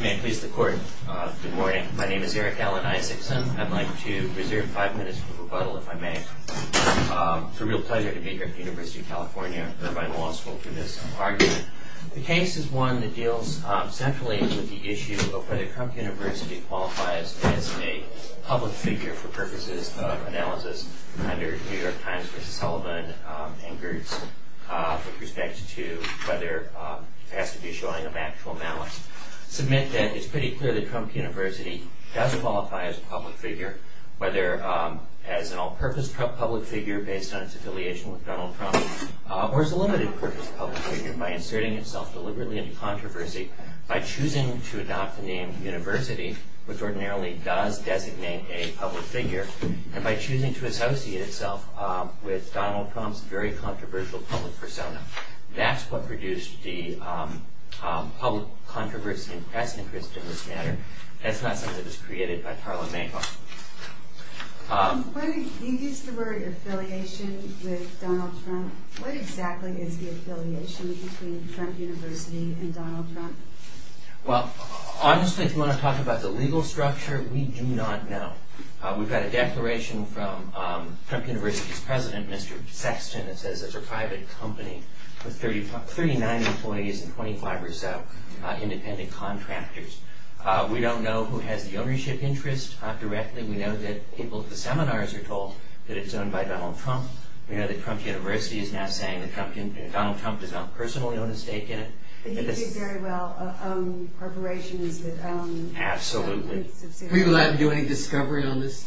May it please the court, good morning. My name is Eric Alan Isaacson. I'd like to reserve five minutes for rebuttal if I may. It's a real pleasure to be here at the University of California Irvine Law School for this argument. The case is one that deals centrally with the issue of whether Trump University qualifies as a public figure for purposes of analysis under New York Times v. Sullivan and Gertz with respect to whether it has to be showing of actual malice. I must submit that it's pretty clear that Trump University does qualify as a public figure, whether as an all-purpose public figure based on its affiliation with Donald Trump or as a limited-purpose public figure by inserting itself deliberately into controversy by choosing to adopt the name University, which ordinarily does designate a public figure, and by choosing to associate itself with Donald Trump's very controversial public persona. That's what produced the public controversy and press interest in this matter. That's not something that was created by Tarla Makaeff. You used the word affiliation with Donald Trump. What exactly is the affiliation between Trump University and Donald Trump? Well, honestly, if you want to talk about the legal structure, we do not know. We've got a declaration from Trump University's president, Mr. Sexton, that says it's a private company with 39 employees and 25 or so independent contractors. We don't know who has the ownership interest directly. We know that people at the seminars are told that it's owned by Donald Trump. We know that Trump University is now saying that Donald Trump does not personally own a stake in it. But he did very well. Absolutely. Were you allowed to do any discovery on this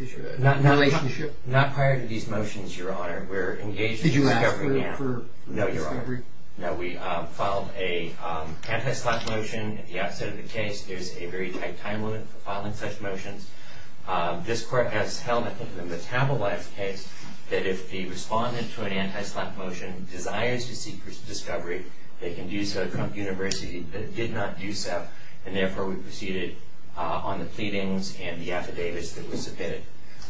issue? Not prior to these motions, Your Honor. Did you ask for discovery? No, Your Honor. No, we filed an anti-slap motion at the outset of the case. There's a very tight time limit for filing such motions. This court has held, I think, in the Metabolites case, that if the respondent to an anti-slap motion desires to seek discovery, they can do so at Trump University, but it did not do so, and therefore we proceeded on the pleadings and the affidavits that were submitted.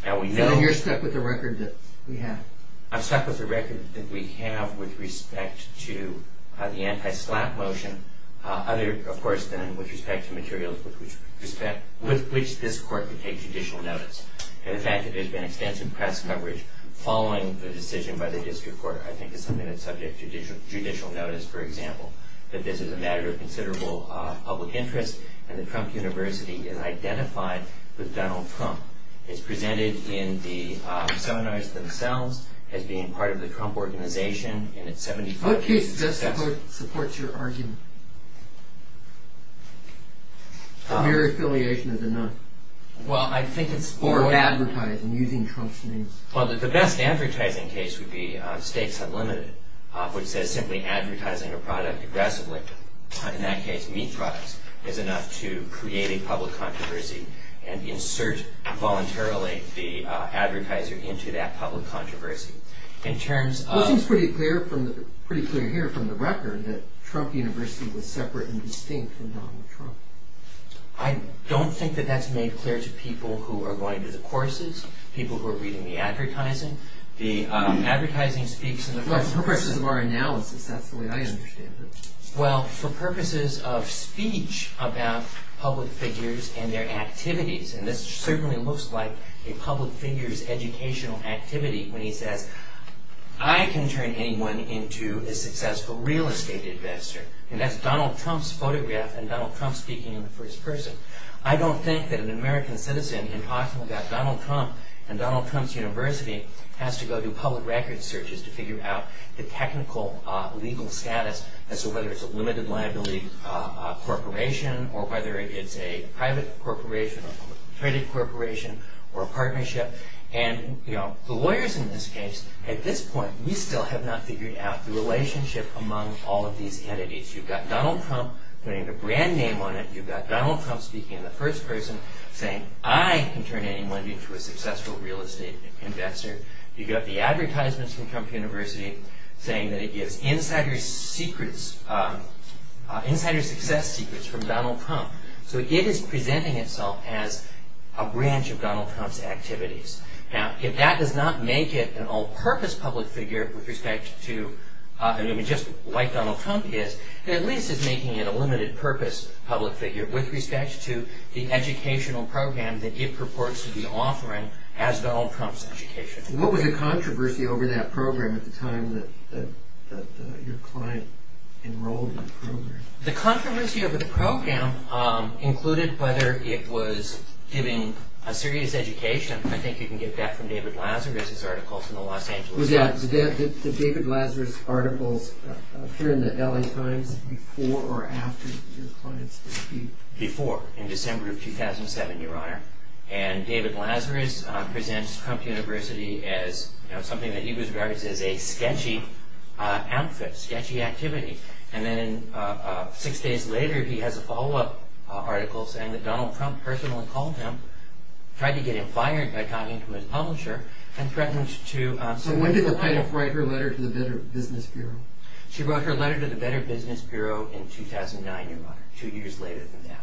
And you're stuck with the record that we have? I'm stuck with the record that we have with respect to the anti-slap motion, other, of course, than with respect to materials with which this court could take judicial notice. And the fact that there's been extensive press coverage following the decision by the district court, I think is something that's subject to judicial notice, for example, that this is a matter of considerable public interest, and that Trump University is identified with Donald Trump, is presented in the seminars themselves as being part of the Trump Organization, and it's 75 pages of text. What case does this court support your argument? A mere affiliation of the none. Well, I think it's for advertising, using Trump's name. Well, the best advertising case would be Stakes Unlimited, which says simply advertising a product aggressively, in that case meat products, is enough to create a public controversy and insert voluntarily the advertiser into that public controversy. It seems pretty clear here from the record that Trump University was separate and distinct from Donald Trump. I don't think that that's made clear to people who are going to the courses, people who are reading the advertising. The advertising speaks in the first person. For purposes of our analysis, that's the way I understand it. Well, for purposes of speech about public figures and their activities, and this certainly looks like a public figure's educational activity when he says, I can turn anyone into a successful real estate investor. And that's Donald Trump's photograph and Donald Trump speaking in the first person. I don't think that an American citizen, in talking about Donald Trump and Donald Trump's university, has to go do public record searches to figure out the technical legal status, as to whether it's a limited liability corporation or whether it's a private corporation, a credit corporation or a partnership. And the lawyers in this case, at this point, we still have not figured out the relationship among all of these entities. You've got Donald Trump putting a brand name on it. You've got Donald Trump speaking in the first person, saying, I can turn anyone into a successful real estate investor. You've got the advertisements from Trump University saying that it gives insider secrets, insider success secrets from Donald Trump. So it is presenting itself as a branch of Donald Trump's activities. Now, if that does not make it an all-purpose public figure with respect to, just like Donald Trump is, it at least is making it a limited-purpose public figure with respect to the educational program that it purports to be offering as Donald Trump's education. What was the controversy over that program at the time that your client enrolled in the program? The controversy over the program included whether it was giving a serious education. I think you can get that from David Lazarus's article from the Los Angeles Times. Did David Lazarus's articles appear in the LA Times before or after your client's dispute? Before, in December of 2007, Your Honor. And David Lazarus presents Trump University as something that he regards as a sketchy outfit, sketchy activity. And then six days later, he has a follow-up article saying that Donald Trump personally called him, tried to get him fired by talking to his publisher, and threatened to- So when did the plaintiff write her letter to the Better Business Bureau? She wrote her letter to the Better Business Bureau in 2009, Your Honor, two years later than that.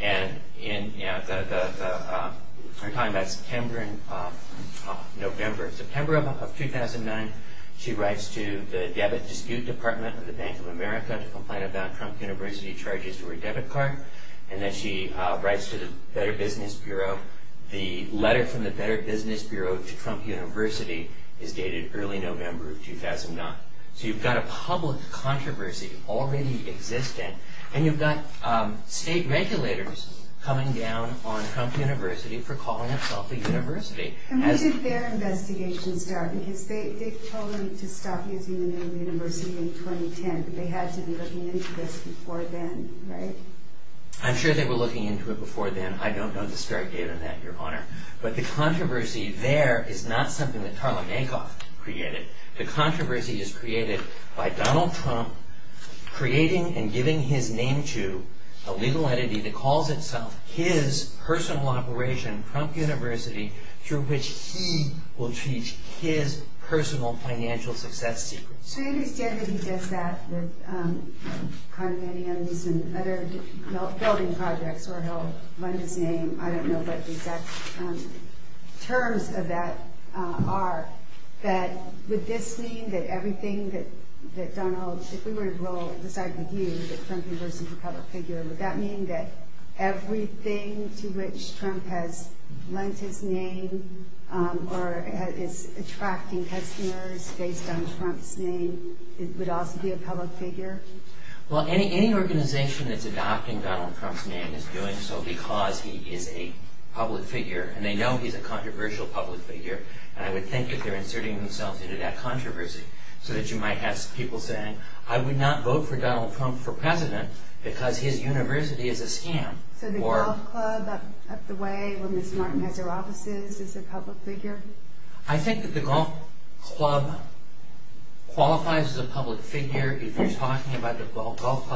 And, you know, we're talking about September and November. September of 2009, she writes to the Debit Dispute Department of the Bank of America to complain about Trump University charges to her debit card. And then she writes to the Better Business Bureau. The letter from the Better Business Bureau to Trump University is dated early November of 2009. So you've got a public controversy already existing, and you've got state regulators coming down on Trump University for calling itself a university. And where did their investigation start? Because they told them to stop using the name University in 2010, but they had to be looking into this before then, right? I'm sure they were looking into it before then. I don't know the start date of that, Your Honor. But the controversy there is not something that Tarlow Mankoff created. The controversy is created by Donald Trump creating and giving his name to a legal entity that calls itself his personal operation, Trump University, through which he will teach his personal financial success secrets. So I understand that he does that with condominiums and other building projects, where he'll lend his name. I don't know what the exact terms of that are. But would this mean that everything that Donald, if we were to decide with you that Trump University would become a figure, would that mean that everything to which Trump has lent his name or is attracting customers based on Trump's name would also be a public figure? Well, any organization that's adopting Donald Trump's name is doing so because he is a public figure. And they know he's a controversial public figure. And I would think that they're inserting themselves into that controversy so that you might have people saying, I would not vote for Donald Trump for president because his university is a scam. So the golf club up the way where Ms. Martin has her offices is a public figure? I think that the golf club qualifies as a public figure if you're talking about the golf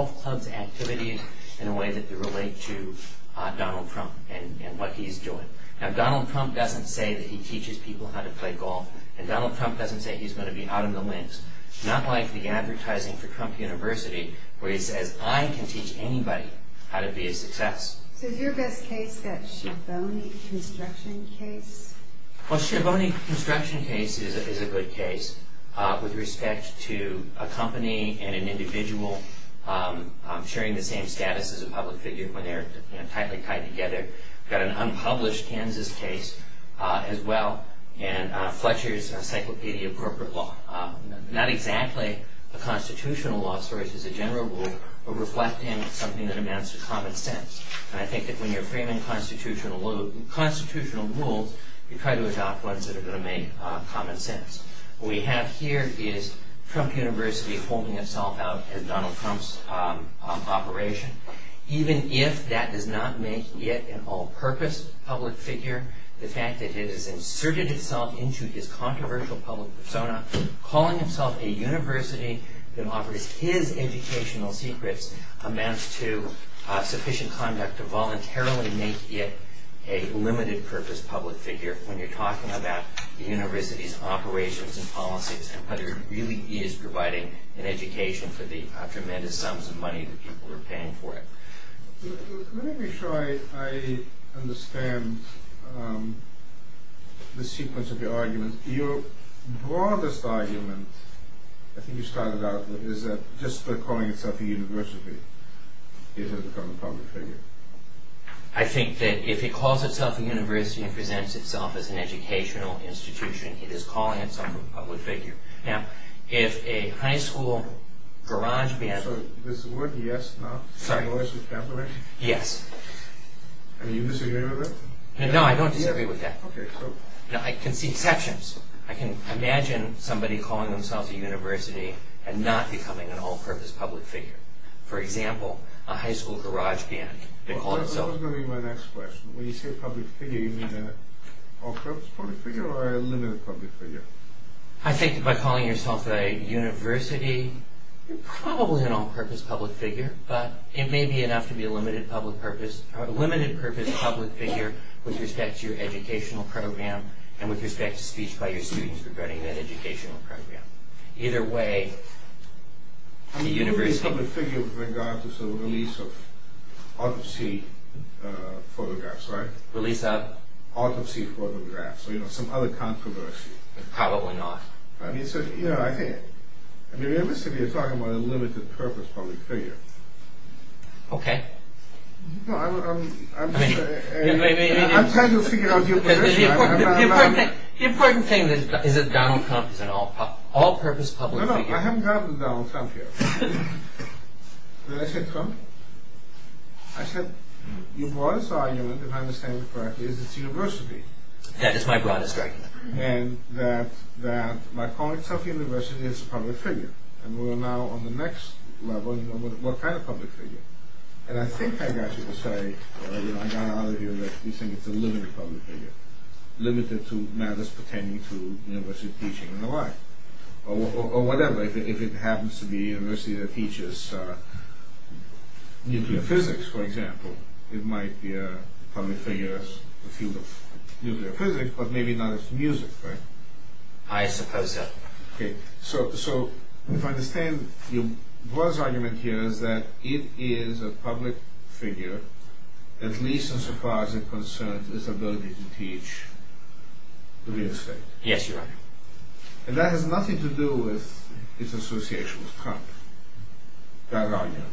club's activities in a way that they relate to Donald Trump and what he's doing. Now, Donald Trump doesn't say that he teaches people how to play golf. And Donald Trump doesn't say he's going to be out of the lens. Not like the advertising for Trump University, where he says, I can teach anybody how to be a success. So is your best case that Schiavone construction case? Well, Schiavone construction case is a good case with respect to a company and an individual sharing the same status as a public figure when they're tightly tied together. We've got an unpublished Kansas case as well, and Fletcher's encyclopedia of corporate law. Not exactly a constitutional law source as a general rule, but reflecting something that amounts to common sense. And I think that when you're framing constitutional rules, you try to adopt ones that are going to make common sense. What we have here is Trump University holding itself out as Donald Trump's operation, even if that does not make it an all-purpose public figure. The fact that it has inserted itself into his controversial public persona calling itself a university that offers his educational secrets amounts to sufficient conduct to voluntarily make it a limited-purpose public figure when you're talking about the university's operations and policies and whether it really is providing an education for the tremendous sums of money that people are paying for it. Let me make sure I understand the sequence of your arguments. Your broadest argument, I think you started out with, is that just by calling itself a university, it has become a public figure. I think that if it calls itself a university and presents itself as an educational institution, it is calling itself a public figure. Now, if a high school garage man... So, is the word, yes, not the word? Yes. And you disagree with that? No, I don't disagree with that. Okay, so... Now, I can see exceptions. I can imagine somebody calling themselves a university and not becoming an all-purpose public figure. For example, a high school garage man. That was going to be my next question. When you say a public figure, you mean an all-purpose public figure or a limited public figure? I think that by calling yourself a university, you're probably an all-purpose public figure, but it may be enough to be a limited-purpose public figure with respect to your educational program and with respect to speech by your students regarding that educational program. I mean, you could be a public figure with regard to, sort of, the release of autopsy photographs, right? Release of? Autopsy photographs or, you know, some other controversy. Probably not. I mean, so, you know, I think... I mean, realistically, you're talking about a limited-purpose public figure. Okay. No, I'm trying to figure out your position. The important thing is that Donald Trump is an all-purpose public figure. No, no, I haven't gotten to Donald Trump yet. When I said Trump, I said, your broadest argument, if I understand it correctly, is it's a university. That is my broadest argument. And that my calling myself a university is a public figure. And we're now on the next level. What kind of public figure? And I think I got you to say, I got it out of you that you think it's a limited public figure. Limited to matters pertaining to university teaching and the like. Or whatever. If it happens to be a university that teaches nuclear physics, for example, it might be a public figure in the field of nuclear physics, but maybe not as music, right? I suppose so. Okay. So, if I understand your broadest argument here is that it is a public figure, at least as far as it concerns its ability to teach nuclear physics. Yes, Your Honor. And that has nothing to do with its association with Trump. That argument.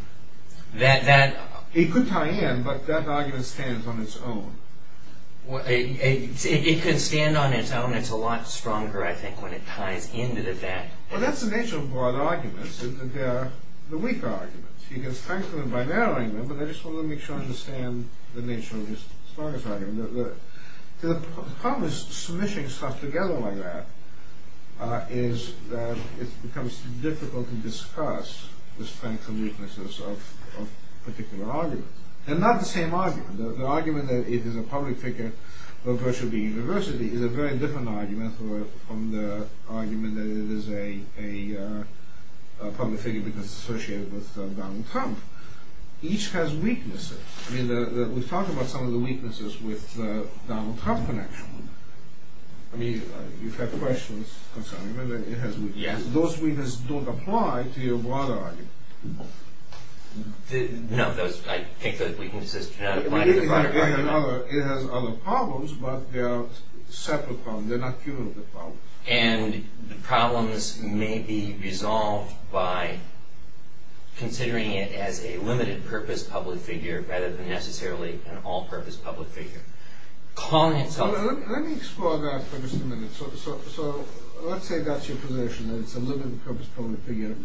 That, that... It could tie in, but that argument stands on its own. It could stand on its own. And it's a lot stronger, I think, when it ties into that. Well, that's the nature of broad arguments. They're the weaker arguments. You can strengthen them by narrowing them, but I just want to make sure I understand the nature of the strongest argument. The problem with smushing stuff together like that is that it becomes difficult to discuss the strengths and weaknesses of particular arguments. They're not the same argument. The argument that it is a public figure versus being a university is a very different argument from the argument that it is a public figure because it's associated with Donald Trump. Each has weaknesses. I mean, we've talked about some of the weaknesses with the Donald Trump connection. I mean, you've had questions concerning whether it has weaknesses. Those weaknesses don't apply to your broader argument. No, I think those weaknesses do not apply to the broader argument. It has other problems, but they're separate problems. They're not cumulative problems. And the problems may be resolved by considering it as a limited-purpose public figure rather than necessarily an all-purpose public figure. Let me explore that for just a minute. So let's say that's your position, that it's a limited-purpose public figure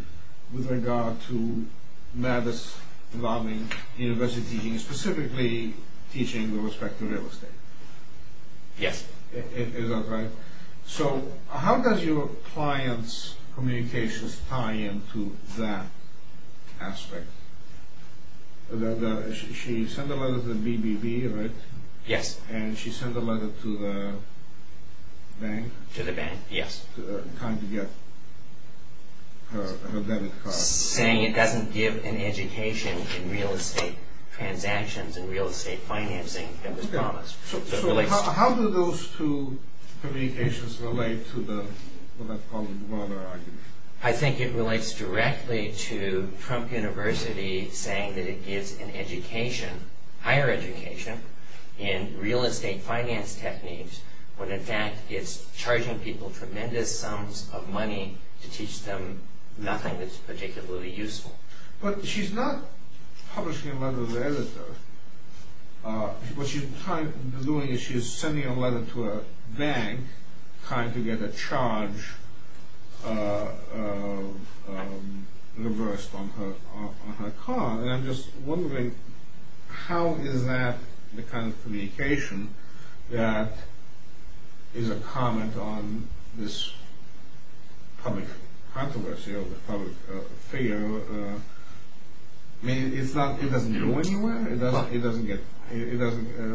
with regard to Mavis lobbying university teaching, specifically teaching with respect to real estate. Yes. Is that right? So how does your client's communications tie into that aspect? She sent a letter to the BBB, right? Yes. And she sent a letter to the bank? To the bank, yes. Trying to get her debit card. Saying it doesn't give an education in real estate transactions and real estate financing that was promised. So how do those two communications relate to the broader argument? I think it relates directly to Trump University saying that it gives an education, higher education, in real estate finance techniques when in fact it's charging people tremendous sums of money to teach them nothing that's particularly useful. But she's not publishing a letter to the editor. What she's doing is she's sending a letter to a bank trying to get a charge reversed on her car. And I'm just wondering how is that the kind of communication that is a comment on this public controversy or the public fear? I mean, it doesn't go anywhere?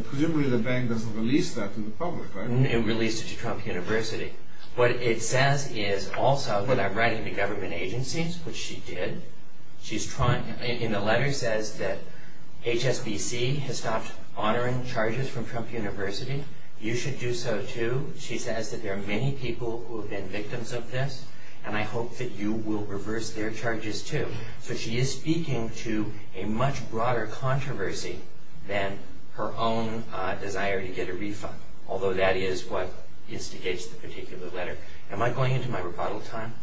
Presumably the bank doesn't release that to the public, right? It released it to Trump University. What it says is also that I'm writing to government agencies, which she did. And the letter says that HSBC has stopped honoring charges from Trump University. You should do so too. She says that there are many people who have been victims of this and I hope that you will reverse their charges too. So she is speaking to a much broader controversy than her own desire to get a refund. Although that is what instigates the particular letter. Am I going into my rebuttal time?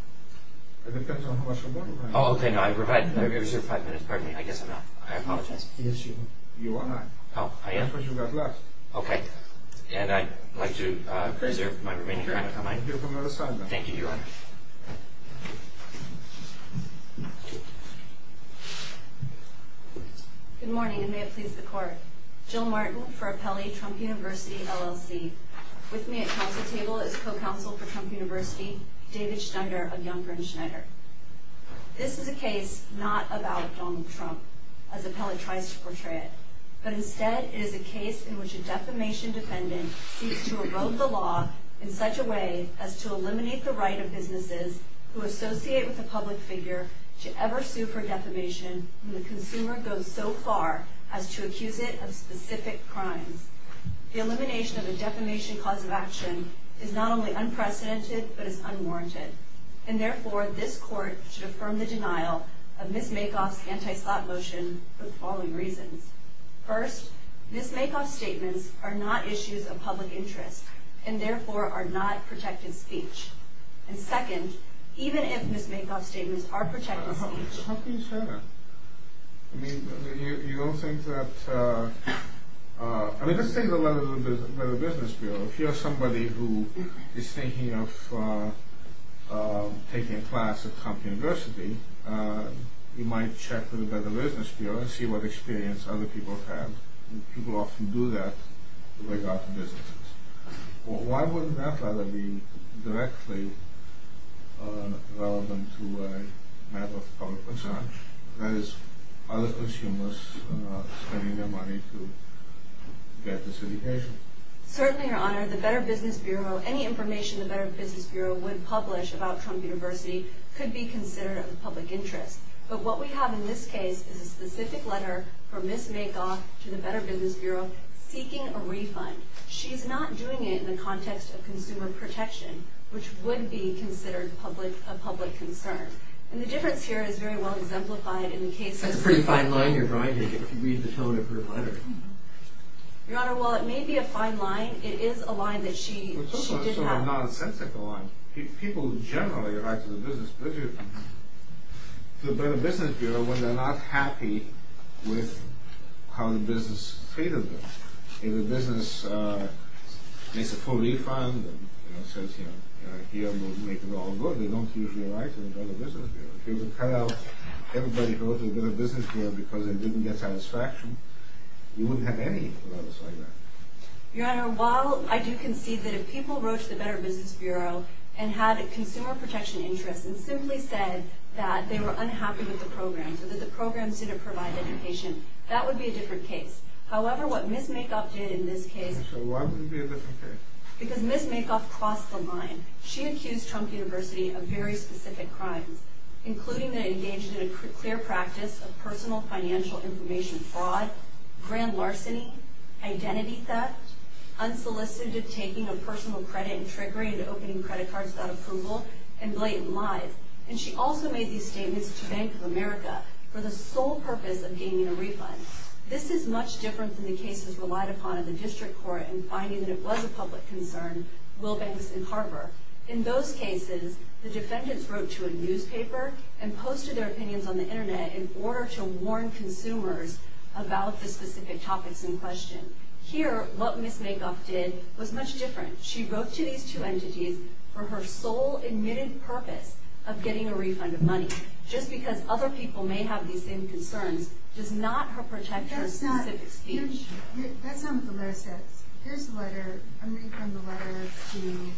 It depends on how much rebuttal time you have. Oh, okay, no, I reserve five minutes. Pardon me, I guess I'm not. I apologize. Yes, you are not. Oh, I am? That's what you got left. Okay. And I'd like to reserve my remaining time if I might. Thank you for your assignment. Thank you, Your Honor. Good morning, and may it please the Court. Jill Martin for Apelli Trump University, LLC. With me at council table is co-counsel for Trump University, David Stunder of Youngburn Schneider. This is a case not about Donald Trump, as Apelli tries to portray it, but instead it is a case in which a defamation defendant seeks to erode the law in such a way as to eliminate the right of businesses who associate with a public figure to ever sue for defamation when the consumer goes so far as to accuse it of specific crimes. The elimination of a defamation cause of action is not only unprecedented but is unwarranted, and therefore this Court should affirm the denial of Ms. Makoff's anti-slot motion for the following reasons. First, Ms. Makoff's statements are not issues of public interest and therefore are not protected speech. And second, even if Ms. Makoff's statements are protected speech... How can you say that? I mean, you don't think that... I mean, let's take a look at the Business Bureau. If you're somebody who is thinking of taking a class at Trump University, you might check with the Business Bureau and see what experience other people have. People often do that with regard to businesses. Why would that rather be directly relevant to a matter of public concern, whereas other consumers are spending their money to get this education? Certainly, Your Honor, the Better Business Bureau, any information the Better Business Bureau would publish about Trump University could be considered of public interest. But what we have in this case is a specific letter from Ms. Makoff to the Better Business Bureau seeking a refund. She's not doing it in the context of consumer protection, which would be considered a public concern. And the difference here is very well exemplified in the case of... That's a pretty fine line you're writing if you read the tone of her letter. Your Honor, while it may be a fine line, it is a line that she did have... So a nonsensical line. People generally write to the Business Bureau when they're not happy with how the business treated them. If the business makes a full refund and says, you know, here, we'll make it all good, they don't usually write to the Better Business Bureau. If it was cut out, everybody wrote to the Better Business Bureau because they didn't get satisfaction, we wouldn't have any letters like that. Your Honor, while I do concede that if people wrote to the Better Business Bureau and had a consumer protection interest and simply said that they were unhappy with the program or that the program didn't provide education, that would be a different case. However, what Ms. Makoff did in this case... So why would it be a different case? Because Ms. Makoff crossed the line. She accused Trump University of very specific crimes, including that it engaged in a clear practice of personal financial information fraud, grand larceny, identity theft, unsolicited taking of personal credit and trickery and opening credit cards without approval, and blatant lies. And she also made these statements to Bank of America for the sole purpose of gaining a refund. This is much different than the cases relied upon in the district court in finding that it was a public concern, Will Banks and Carver. In those cases, the defendants wrote to a newspaper and posted their opinions on the Internet in order to warn consumers about the specific topics in question. Here, what Ms. Makoff did was much different. She wrote to these two entities for her sole admitted purpose of getting a refund of money. Just because other people may have these same concerns does not help protect her specific speech. That's not what the letter says. Here's the letter. I'm reading from the letter to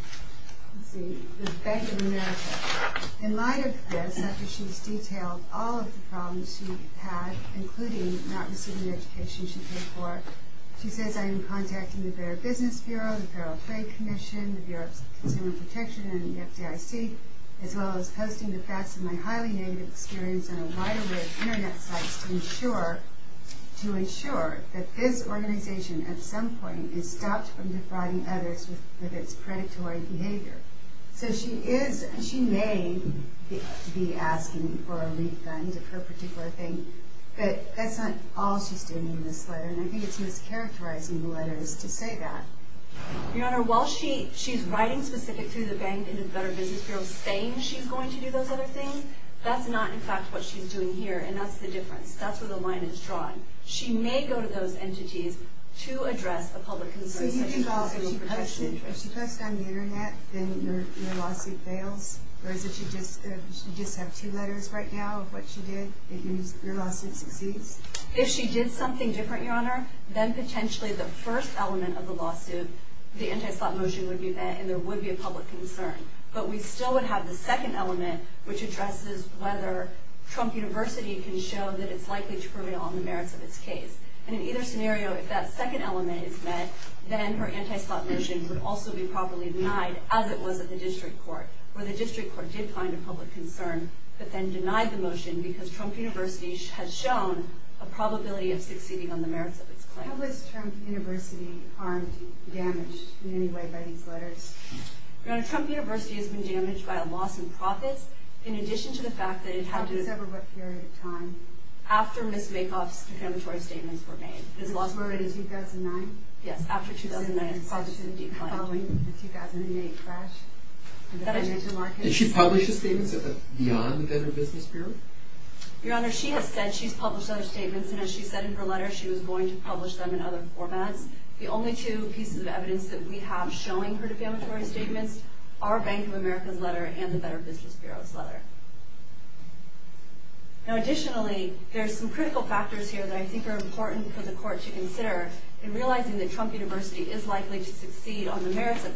the Bank of America. In light of this, after she's detailed all of the problems she had, including not receiving the education she paid for, she says, I am contacting the Fair Business Bureau, the Federal Trade Commission, the Bureau of Consumer Protection and the FDIC, as well as posting the facts of my highly negative experience on a wide array of Internet sites to ensure that this organization at some point is stopped from defrauding others with its predatory behavior. So she may be asking for a refund of her particular thing, but that's not all she's doing in this letter, and I think it's mischaracterizing the letters to say that. Your Honor, while she's writing specifically to the Bank and to the Federal Business Bureau saying she's going to do those other things, that's not in fact what she's doing here, and that's the difference. That's where the line is drawn. She may go to those entities to address a public concern such as consumer protection interest. So you think if she posts it on the Internet, then your lawsuit fails? Or is it that you just have two letters right now of what she did? It means your lawsuit succeeds? If she did something different, your Honor, then potentially the first element of the lawsuit, the anti-slot motion would be met, and there would be a public concern. But we still would have the second element, which addresses whether Trump University can show that it's likely to prevail on the merits of its case. And in either scenario, if that second element is met, then her anti-slot motion would also be properly denied, as it was at the district court, where the district court did find a public concern, but then denied the motion because Trump University has shown a probability of succeeding on the merits of its claim. How was Trump University harmed, damaged, in any way by these letters? Your Honor, Trump University has been damaged by a loss in profits, in addition to the fact that it had to... After several what period of time? After Ms. Makoff's defamatory statements were made. Was it already 2009? Yes, after 2009. Following the 2008 crash? Did she publish the statements beyond the Better Business Bureau? Your Honor, she has said she's published other statements, and as she said in her letter, she was going to publish them in other formats. The only two pieces of evidence that we have showing her defamatory statements are Bank of America's letter and the Better Business Bureau's letter. Additionally, there are some critical factors here that I think are important for the court to consider in realizing that Trump University is likely to succeed on the merits of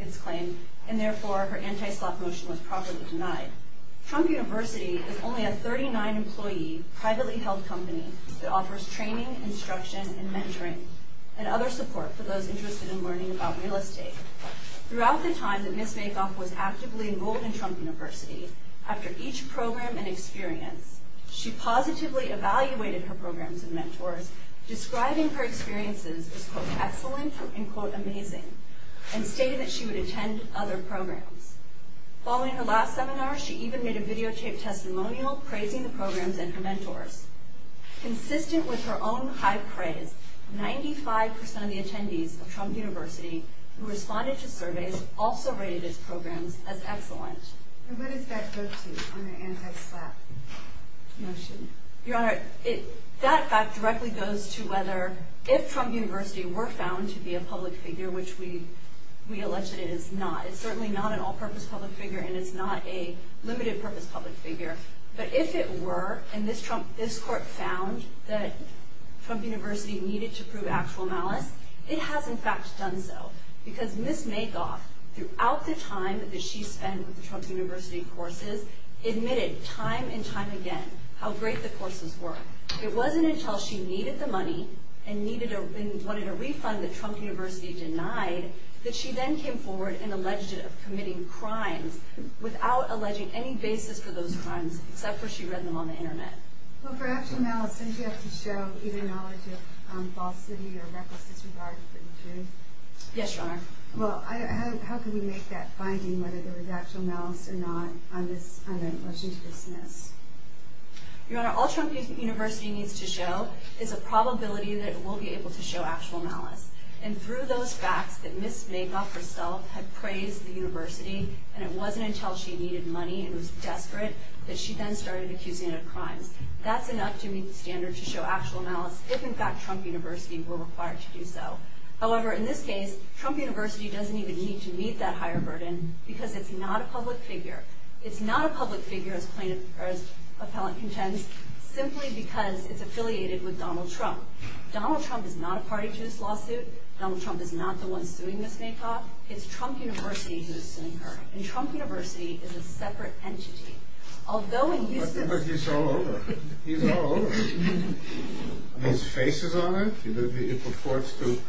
its claim, and therefore her anti-sloth motion was properly denied. Trump University is only a 39-employee, privately held company that offers training, instruction, and mentoring, and other support for those interested in learning about real estate. Throughout the time that Ms. Makoff was actively enrolled in Trump University, she positively evaluated her programs and mentors, describing her experiences as quote, excellent and quote, amazing, and stated that she would attend other programs. Following her last seminar, she even made a videotaped testimonial praising the programs and her mentors. Consistent with her own high praise, 95% of the attendees of Trump University who responded to surveys also rated its programs as excellent. And what does that go to on her anti-sloth motion? Your Honor, that fact directly goes to whether, if Trump University were found to be a public figure, which we allege that it is not. It's certainly not an all-purpose public figure, and it's not a limited-purpose public figure. But if it were, and this court found that Trump University needed to prove actual malice, it has in fact done so. Because Ms. Makoff, throughout the time that she spent with the Trump University courses, admitted time and time again how great the courses were. It wasn't until she needed the money, and wanted a refund that Trump University denied, that she then came forward and alleged it of committing crimes, without alleging any basis for those crimes, except for she read them on the internet. Well, for actual malice, don't you have to show either knowledge of falsity or reckless disregard for the truth? Yes, Your Honor. Well, how can we make that finding, whether there was actual malice or not, on this motion to dismiss? Your Honor, all Trump University needs to show is a probability that it will be able to show actual malice. And through those facts that Ms. Makoff herself had praised the university, and it wasn't until she needed money and was desperate, that she then started accusing it of crimes. That's enough to meet the standard to show actual malice, if in fact Trump University were required to do so. However, in this case, Trump University doesn't even need to meet that higher burden, because it's not a public figure. It's not a public figure, as plaintiff or as appellant contends, simply because it's affiliated with Donald Trump. Donald Trump is not a party to this lawsuit. Donald Trump is not the one suing Ms. Makoff. It's Trump University who is suing her. And Trump University is a separate entity. Although in Eustace... But he's all over. He's all over. His face is on it. It purports to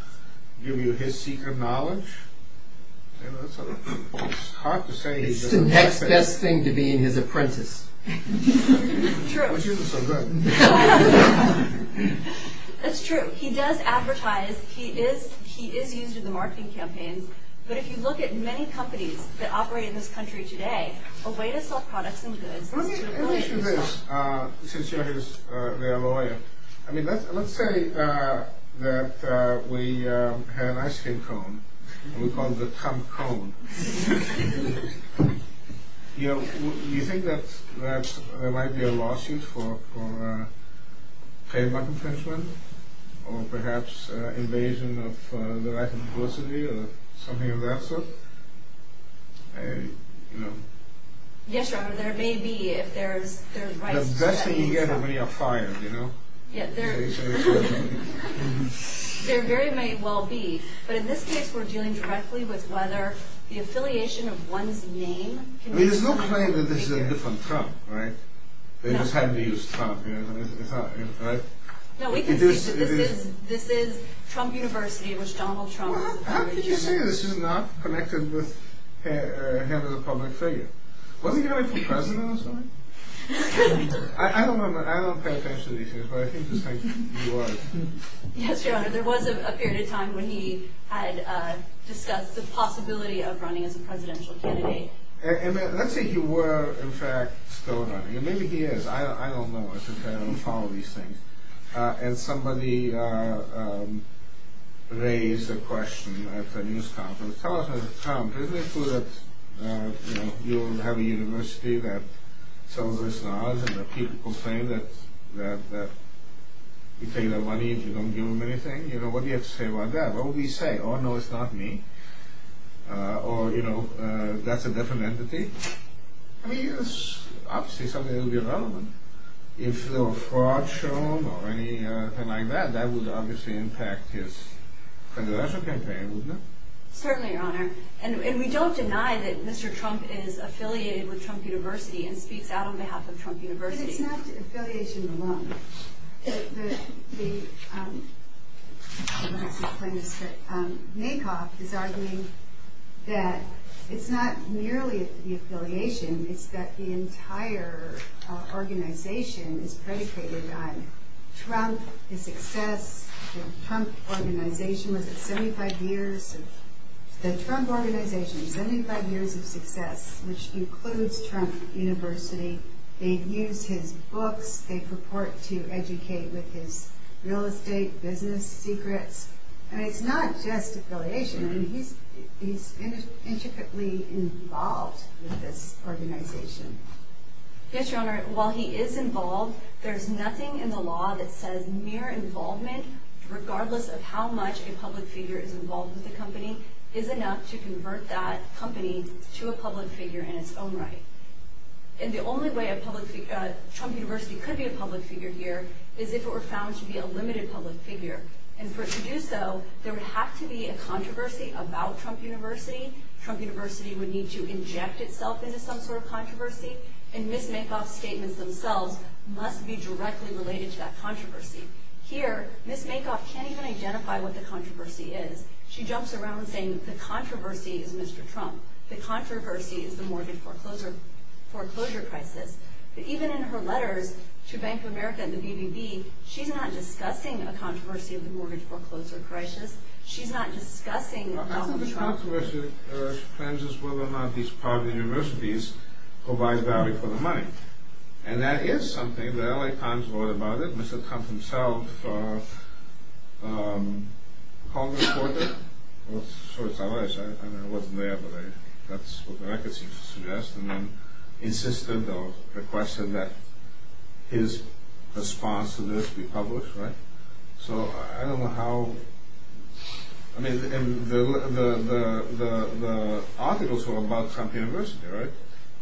give you his secret knowledge. It's hard to say he doesn't have it. It's the next best thing to be his apprentice. True. Which isn't so good. That's true. He does advertise. He is used in the marketing campaigns. But if you look at many companies that operate in this country today, a way to sell products and goods... Let me ask you this, since you're their lawyer. Let's say that we have an ice cream cone. We call it the Trump cone. Do you think that there might be a lawsuit for trademark infringement? Or perhaps invasion of the right of publicity? Or something of that sort? Yes, Robert. There may be if there's... The best thing you get when you're fired, you know? There very may well be. But in this case, we're dealing directly with whether the affiliation of one's name... There's no claim that this is a different Trump, right? They just had to use Trump, right? No, we can see that this is Trump University, which Donald Trump... How could you say this is not connected with him as a public figure? Wasn't he running for president at this point? I don't pay attention to these things, but I think this time he was. Yes, Your Honor. There was a period of time when he had discussed the possibility of running as a presidential candidate. Let's say he were, in fact, still running. Maybe he is. I don't know. I don't follow these things. And somebody raised a question at the news conference. Tell us, Mr. Trump, isn't it true that you have a university that some of us know of and that people complain that you take their money if you don't give them anything? You know, what do you have to say about that? What would he say? Oh, no, it's not me. Or, you know, that's a different entity? I mean, it's obviously something that would be relevant. If there were fraud shown or anything like that, that would obviously impact his presidential campaign, wouldn't it? Certainly, Your Honor. And we don't deny that Mr. Trump is affiliated with Trump University and speaks out on behalf of Trump University. But it's not affiliation alone. The, um, I don't want to keep playing this trick. Maycock is arguing that it's not merely the affiliation. It's that the entire organization is predicated on Trump, his success. The Trump Organization was 75 years of success, which includes Trump University. They use his books. They purport to educate with his real estate business secrets. And it's not just affiliation. I mean, he's intricately involved with this organization. Yes, Your Honor. While he is involved, there's nothing in the law that says mere involvement, regardless of how much a public figure is involved with the company, is enough to convert that company to a public figure in its own right. And the only way a public figure, uh, Trump University could be a public figure here is if it were found to be a limited public figure. And for it to do so, there would have to be a controversy about Trump University. Trump University would need to inject itself into some sort of controversy and Ms. Maycock's statements themselves must be directly related to that controversy. Here, Ms. Maycock can't even identify what the controversy is. She jumps around saying the controversy is Mr. Trump. The controversy is the mortgage foreclosure crisis. But even in her letters to Bank of America and the BBB, she's not discussing a controversy of the mortgage foreclosure crisis. She's not discussing Donald Trump. The controversy, uh, depends on whether or not these private universities provide value for the money. And that is something. The LA Times wrote about it. Mr. Trump himself, uh, um, called the reporter. I'm sure it's LA. I wasn't there, but that's what the record seems to suggest. And then insisted or requested that his response to this be published, right? So, I don't know how... I mean, the articles were about Trump University, right?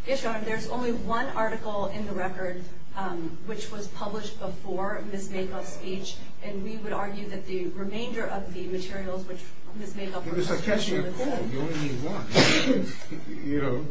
Yes, Your Honor. There's only one article in the record, um, which was published before Ms. Maycock's speech. And we would argue that the remainder of the materials which Ms. Maycock... Because I catch your call. You only need one. You know,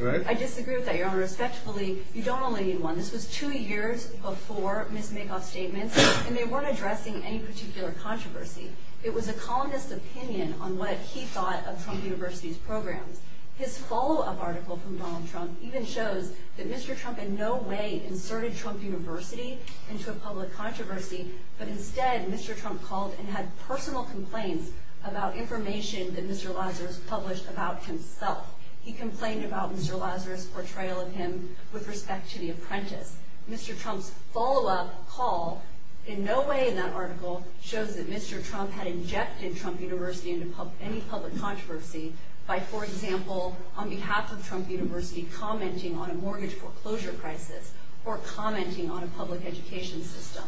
right? I disagree with that, Your Honor. Respectfully, you don't only need one. This was two years before Ms. Maycock's statements. And they weren't addressing any particular controversy. It was a columnist's opinion on what he thought of Trump University's programs. His follow-up article from Donald Trump even shows that Mr. Trump in no way inserted Trump University into a public controversy, but instead Mr. Trump called and had personal complaints about information that Mr. Lazarus published about himself. He complained about Mr. Lazarus' portrayal of him with respect to The Apprentice. Mr. Trump's follow-up call, in no way in that article, shows that Mr. Trump had injected Trump University into any public controversy by, for example, on behalf of Trump University, commenting on a mortgage foreclosure crisis or commenting on a public education system.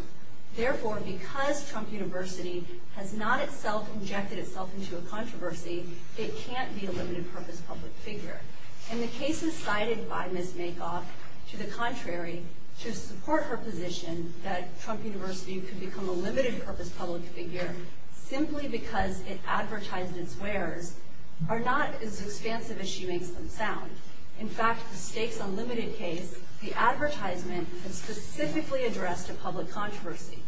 Therefore, because Trump University has not itself injected itself into a controversy, it can't be a limited-purpose public figure. And the cases cited by Ms. Maycock, to the contrary, to support her position that Trump University could become a limited-purpose public figure simply because it advertised its wares, are not as expansive as she makes them sound. In fact, the Stakes Unlimited case, the advertisement, had specifically addressed a public controversy.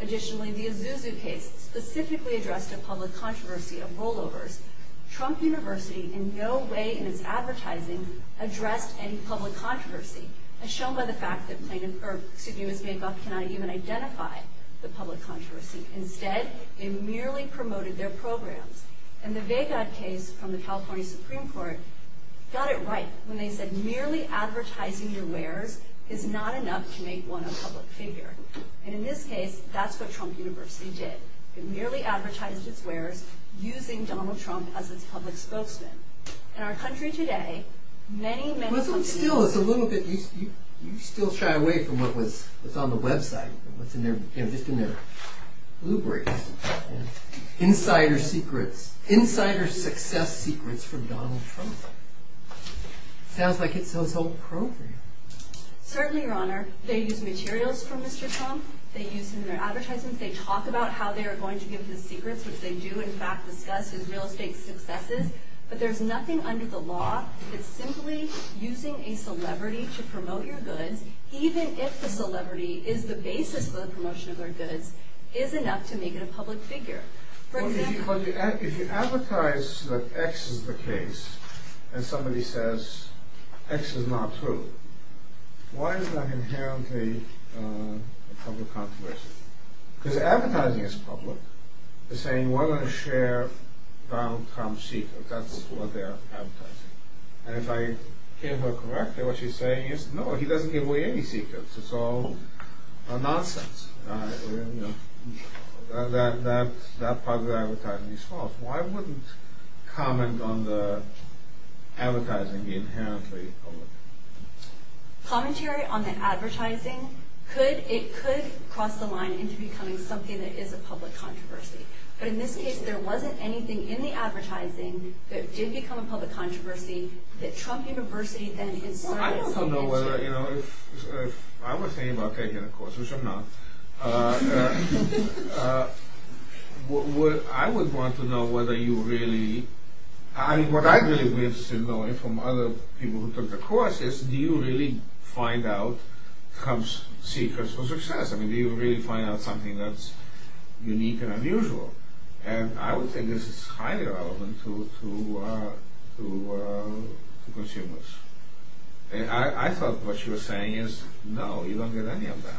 Additionally, the Isuzu case specifically addressed a public controversy of rollovers. Trump University, in no way in its advertising, addressed any public controversy, as shown by the fact that Ms. Maycock cannot even identify the public controversy. Instead, it merely promoted their programs. And the Vegard case from the California Supreme Court got it right when they said merely advertising your wares is not enough to make one a public figure. And in this case, that's what Trump University did. It merely advertised its wares using Donald Trump as its public spokesman. In our country today, many, many... But still, it's a little bit... You still shy away from what's on the website, what's in their, you know, just in their blueprints. Insider secrets. Insider success secrets from Donald Trump. Sounds like it's so-so appropriate. Certainly, Your Honor. They use materials from Mr. Trump. They use him in their advertisements. They talk about how they are going to give his secrets, which they do, in fact, discuss his real estate successes. But there's nothing under the law that simply using a celebrity to promote your goods, even if the celebrity is the basis for the promotion of their goods, is enough to make it a public figure. For example... But if you advertise that X is the case, and somebody says X is not true, why is that inherently a public controversy? Because advertising is public. They're saying, we're going to share Donald Trump's secrets. That's what they're advertising. And if I give her correctly, what she's saying is, no, he doesn't give away any secrets. It's all nonsense. That part of the advertising is false. Why wouldn't comment on the advertising be inherently public? Commentary on the advertising, it could cross the line into becoming something that is a public controversy. But in this case, there wasn't anything in the advertising that did become a public controversy that Trump University then inserted its signature... I don't know whether... I was thinking about taking the course, which I'm not. I would want to know whether you really... What I'd really be interested in knowing from other people who took the course is, do you really find out Trump's secrets for success? Do you really find out something that's unique and unusual? And I would think this is highly relevant to consumers. I thought what she was saying is, no, you don't get any of that.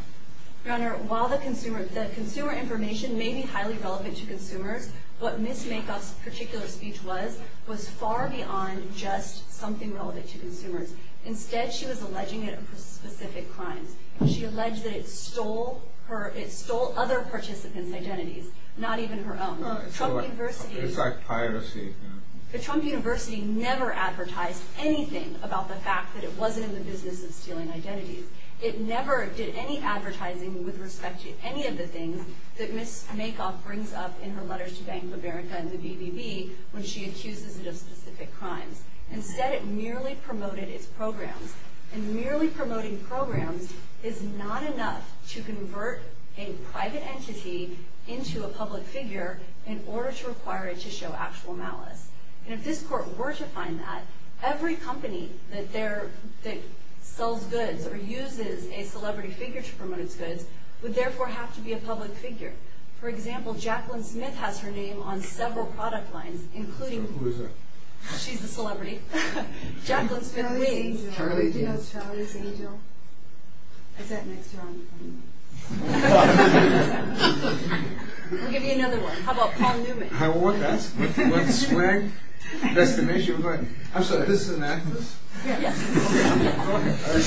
Your Honor, while the consumer information may be highly relevant to consumers, what Ms. Makoff's particular speech was was far beyond just something relevant to consumers. Instead, she was alleging it for specific crimes. She alleged that it stole other participants' identities, not even her own. Trump University... It's like piracy. Trump University never advertised anything about the fact that it wasn't in the business of stealing identities. It never did any advertising with respect to any of the things that Ms. Makoff brings up in her letters to Bank of America and the BBB when she accuses it of specific crimes. Instead, it merely promoted its programs. And merely promoting programs is not enough to convert a private entity into a public figure in order to require it to show actual malice. And if this Court were to find that, every company that sells goods or uses a celebrity figure to promote its goods would therefore have to be a public figure. For example, Jacqueline Smith has her name on several product lines, including... Who is that? She's the celebrity. Jacqueline Smith. Charlie's Angel. Charlie's Angel. Do you know Charlie's Angel? Is that next to her on your phone? No. We'll give you another one. How about Paul Newman? What's that? What's the swag? That's the name? She was like, I'm sorry, this is an actress? Yes.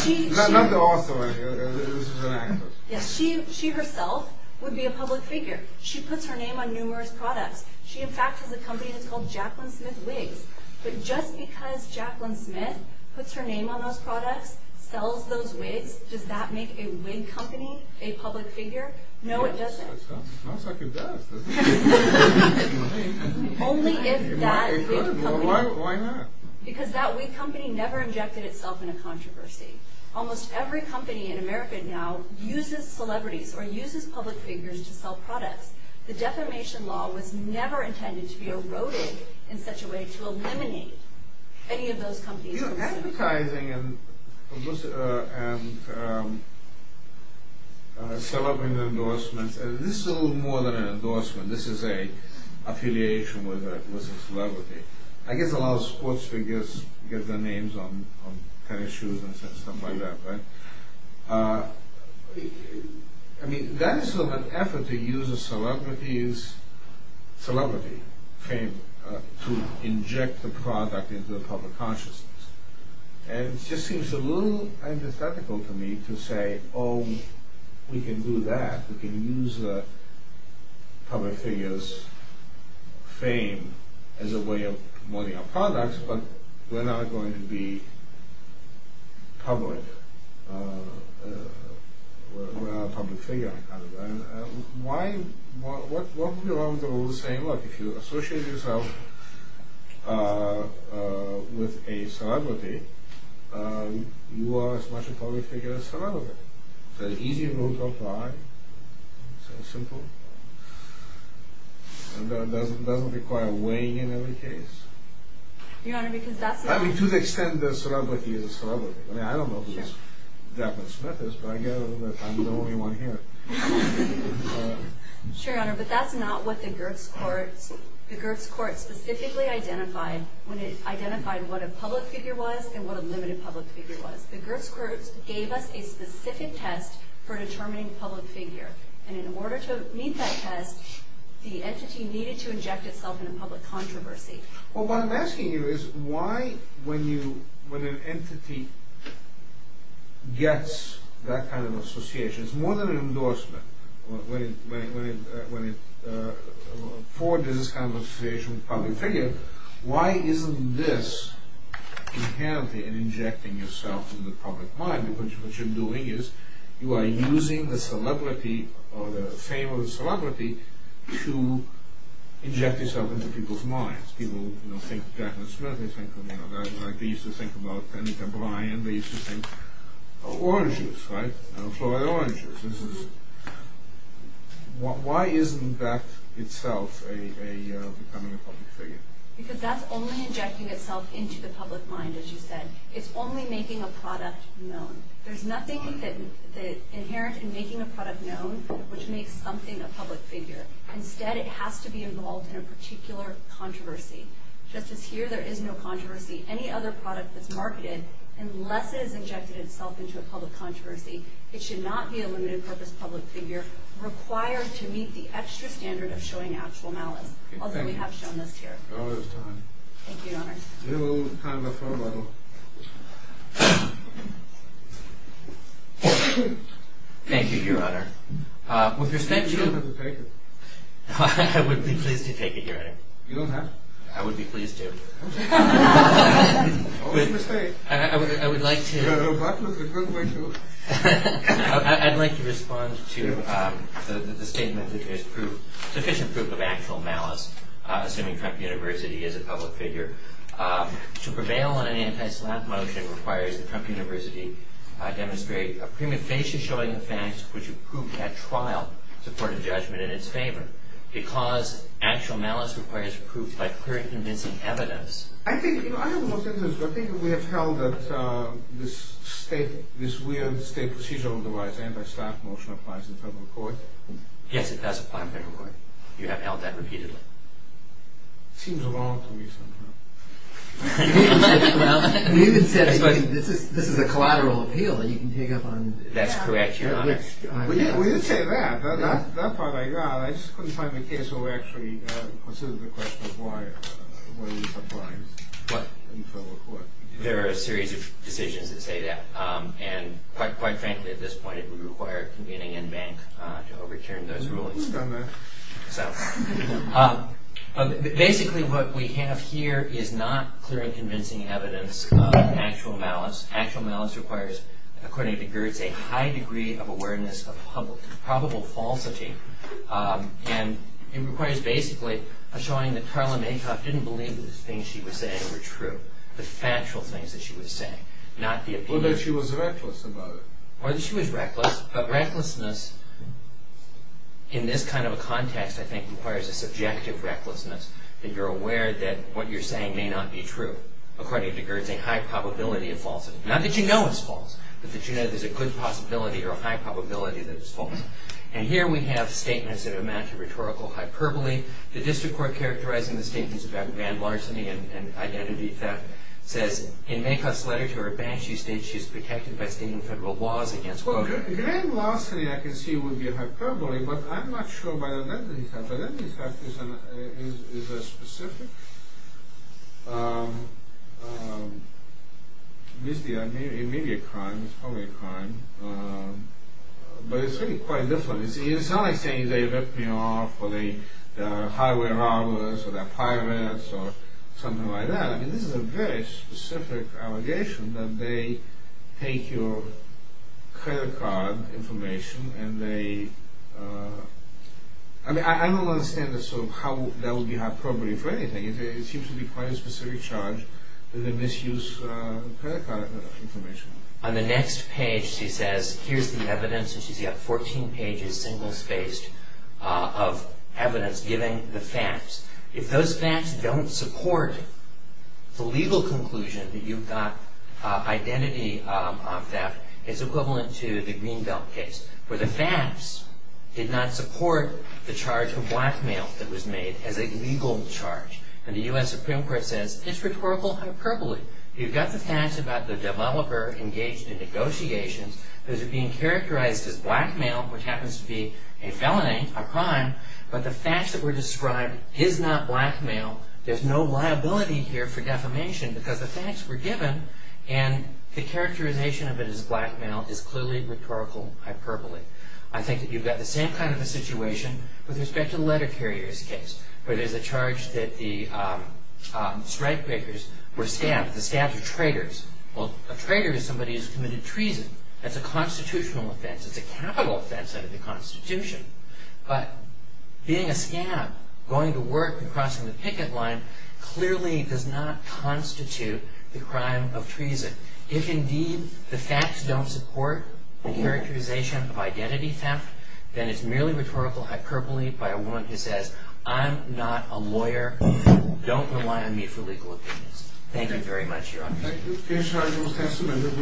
Okay. Not the author, this is an actress. Yes, she herself would be a public figure. She puts her name on numerous products. She, in fact, has a company that's called Jacqueline Smith Wigs. But just because Jacqueline Smith puts her name on those products, sells those wigs, does that make a wig company a public figure? No, it doesn't. It sounds like it does. Only if that wig company... Why not? Because that wig company never injected itself in a controversy. Almost every company in America now uses celebrities or uses public figures to sell products. The defamation law was never intended to be eroded in such a way to eliminate any of those companies. You know, advertising and celebrity endorsements, this is a little more than an endorsement. This is an affiliation with a celebrity. I guess a lot of sports figures get their names on tennis shoes and stuff like that, right? I mean, that's sort of an effort to use a celebrity's... celebrity fame to inject the product into the public consciousness. And it just seems a little antithetical to me to say, oh, we can do that. We can use a public figure's fame as a way of promoting our products, but we're not going to be public. We're not a public figure. Why? What would be wrong with saying, look, if you associate yourself with a celebrity, you are as much a public figure as a celebrity. It's an easy rule to apply. It's so simple. And it doesn't require weighing in every case. Your Honor, because that's... I mean, to the extent that a celebrity is a celebrity. I mean, I don't know who Devin Smith is, but I gather that I'm the only one here. Sure, Your Honor, but that's not what the Gertz Court... the Gertz Court specifically identified when it identified what a public figure was and what a limited public figure was. The Gertz Court gave us a specific test for determining a public figure. And in order to meet that test, the entity needed to inject itself in a public controversy. Well, what I'm asking you is, why, when you... when an entity gets that kind of association, it's more than an endorsement, when it... affords this kind of association with a public figure, why isn't this inherently injecting yourself into the public mind? Because what you're doing is you are using the celebrity or the fame of the celebrity to inject yourself into people's minds. People, you know, think of Devin Smith, they think of, you know, they used to think about Anita Bryant, they used to think of Orange Juice, right? Florida Orange Juice. Why isn't that itself becoming a public figure? Because that's only injecting itself into the public mind, as you said. It's only making a product known. There's nothing inherent in making a product known which makes something a public figure. Instead, it has to be involved in a particular controversy. Just as here, there is no controversy any other product that's marketed unless it has injected itself into a public controversy. It should not be a limited purpose public figure required to meet the extra standard of showing actual malice. Although we have shown this here. Thank you, Your Honor. With respect to... I would be pleased to take it, Your Honor. I would be pleased to. Always a mistake. I would like to... I'd like to respond to the statement that there's sufficient proof of actual malice, assuming Trump University is a public figure. To prevail on an anti-slap motion requires that Trump University demonstrate a prima facie showing the facts which have proved that trial to court of judgment in its favor. Because actual malice requires proof by clear and convincing evidence. I think... I have the most interest... I think we have held that this state... this weird state procedural device anti-slap motion applies in federal court. Yes, it does apply in federal court. You have held that repeatedly. Seems wrong to me sometimes. This is a collateral appeal that you can take up on... That's correct, Your Honor. We did say that. That part I got. I just couldn't find the case where we actually considered the question of why this applies in federal court. There are a series of decisions that say that. And quite frankly at this point it would require convening in-bank to overturn those rules. Basically what we have here is not clear and convincing evidence of actual malice. Actual malice requires, according to Geertz, a high degree of awareness of probable falsity. And it requires basically showing that Karla Mankoff didn't believe the things she was saying were true. The factual things that she was saying. Not the... Or that she was reckless about it. Or that she was reckless. But recklessness in this kind of context I think requires a subjective recklessness. That you're aware that what you're saying may not be true. According to Geertz a high probability of falsity. Not that you know it's false. But that you know there's a good possibility or a high probability that it's false. And here we have statements that amount to rhetorical hyperbole. The district court characterizing the statements about grand larceny and identity theft says in Mankoff's letter to her bank she states she's protected by stating federal laws against... Well, grand larceny I can see would be a hyperbole but I'm not sure about identity theft. Identity theft is a specific... It may be a crime. It's probably a crime. But it's really quite different. It's not like saying they ripped me off or they are highway robbers or they're pirates or something like that. I mean this is a very specific allegation that they take your credit card information and they... I mean I don't understand how that would be high probability for anything. It seems to be quite a specific charge that they misuse credit card information. On the next page she says here's the evidence and she's got 14 pages single spaced of evidence giving the facts. If those facts don't support the legal conclusion that you've got identity theft it's equivalent to the Green Belt case where the facts did not support the charge for blackmail that was made as a legal charge. And the U.S. Supreme Court says it's rhetorical hyperbole. You've got the facts about the developer engaged in negotiations. Those are being characterized as blackmail which happens to be a felony, a crime, but the facts that were described is not blackmail. There's no liability here for defamation because the facts were given and the characterization of it as blackmail is clearly rhetorical hyperbole. I think that you've got the same kind of a situation with respect to the letter carrier's case where there's a charge that the strike breakers were scammed. The scams are traitors. Well, a traitor is somebody who's committed treason. That's a constitutional offense. It's a capital offense under the Constitution. But being a scam, going to work and crossing the picket line clearly does not constitute the crime of treason. If indeed the facts don't support the characterization of identity theft, then it's merely rhetorical hyperbole by a woman who says, I'm not a criminal. Don't rely on me for legal opinions. Thank you very much, Your Honor. Thank you. We'll finish our little testimony. Good work, Your Honor. All rise.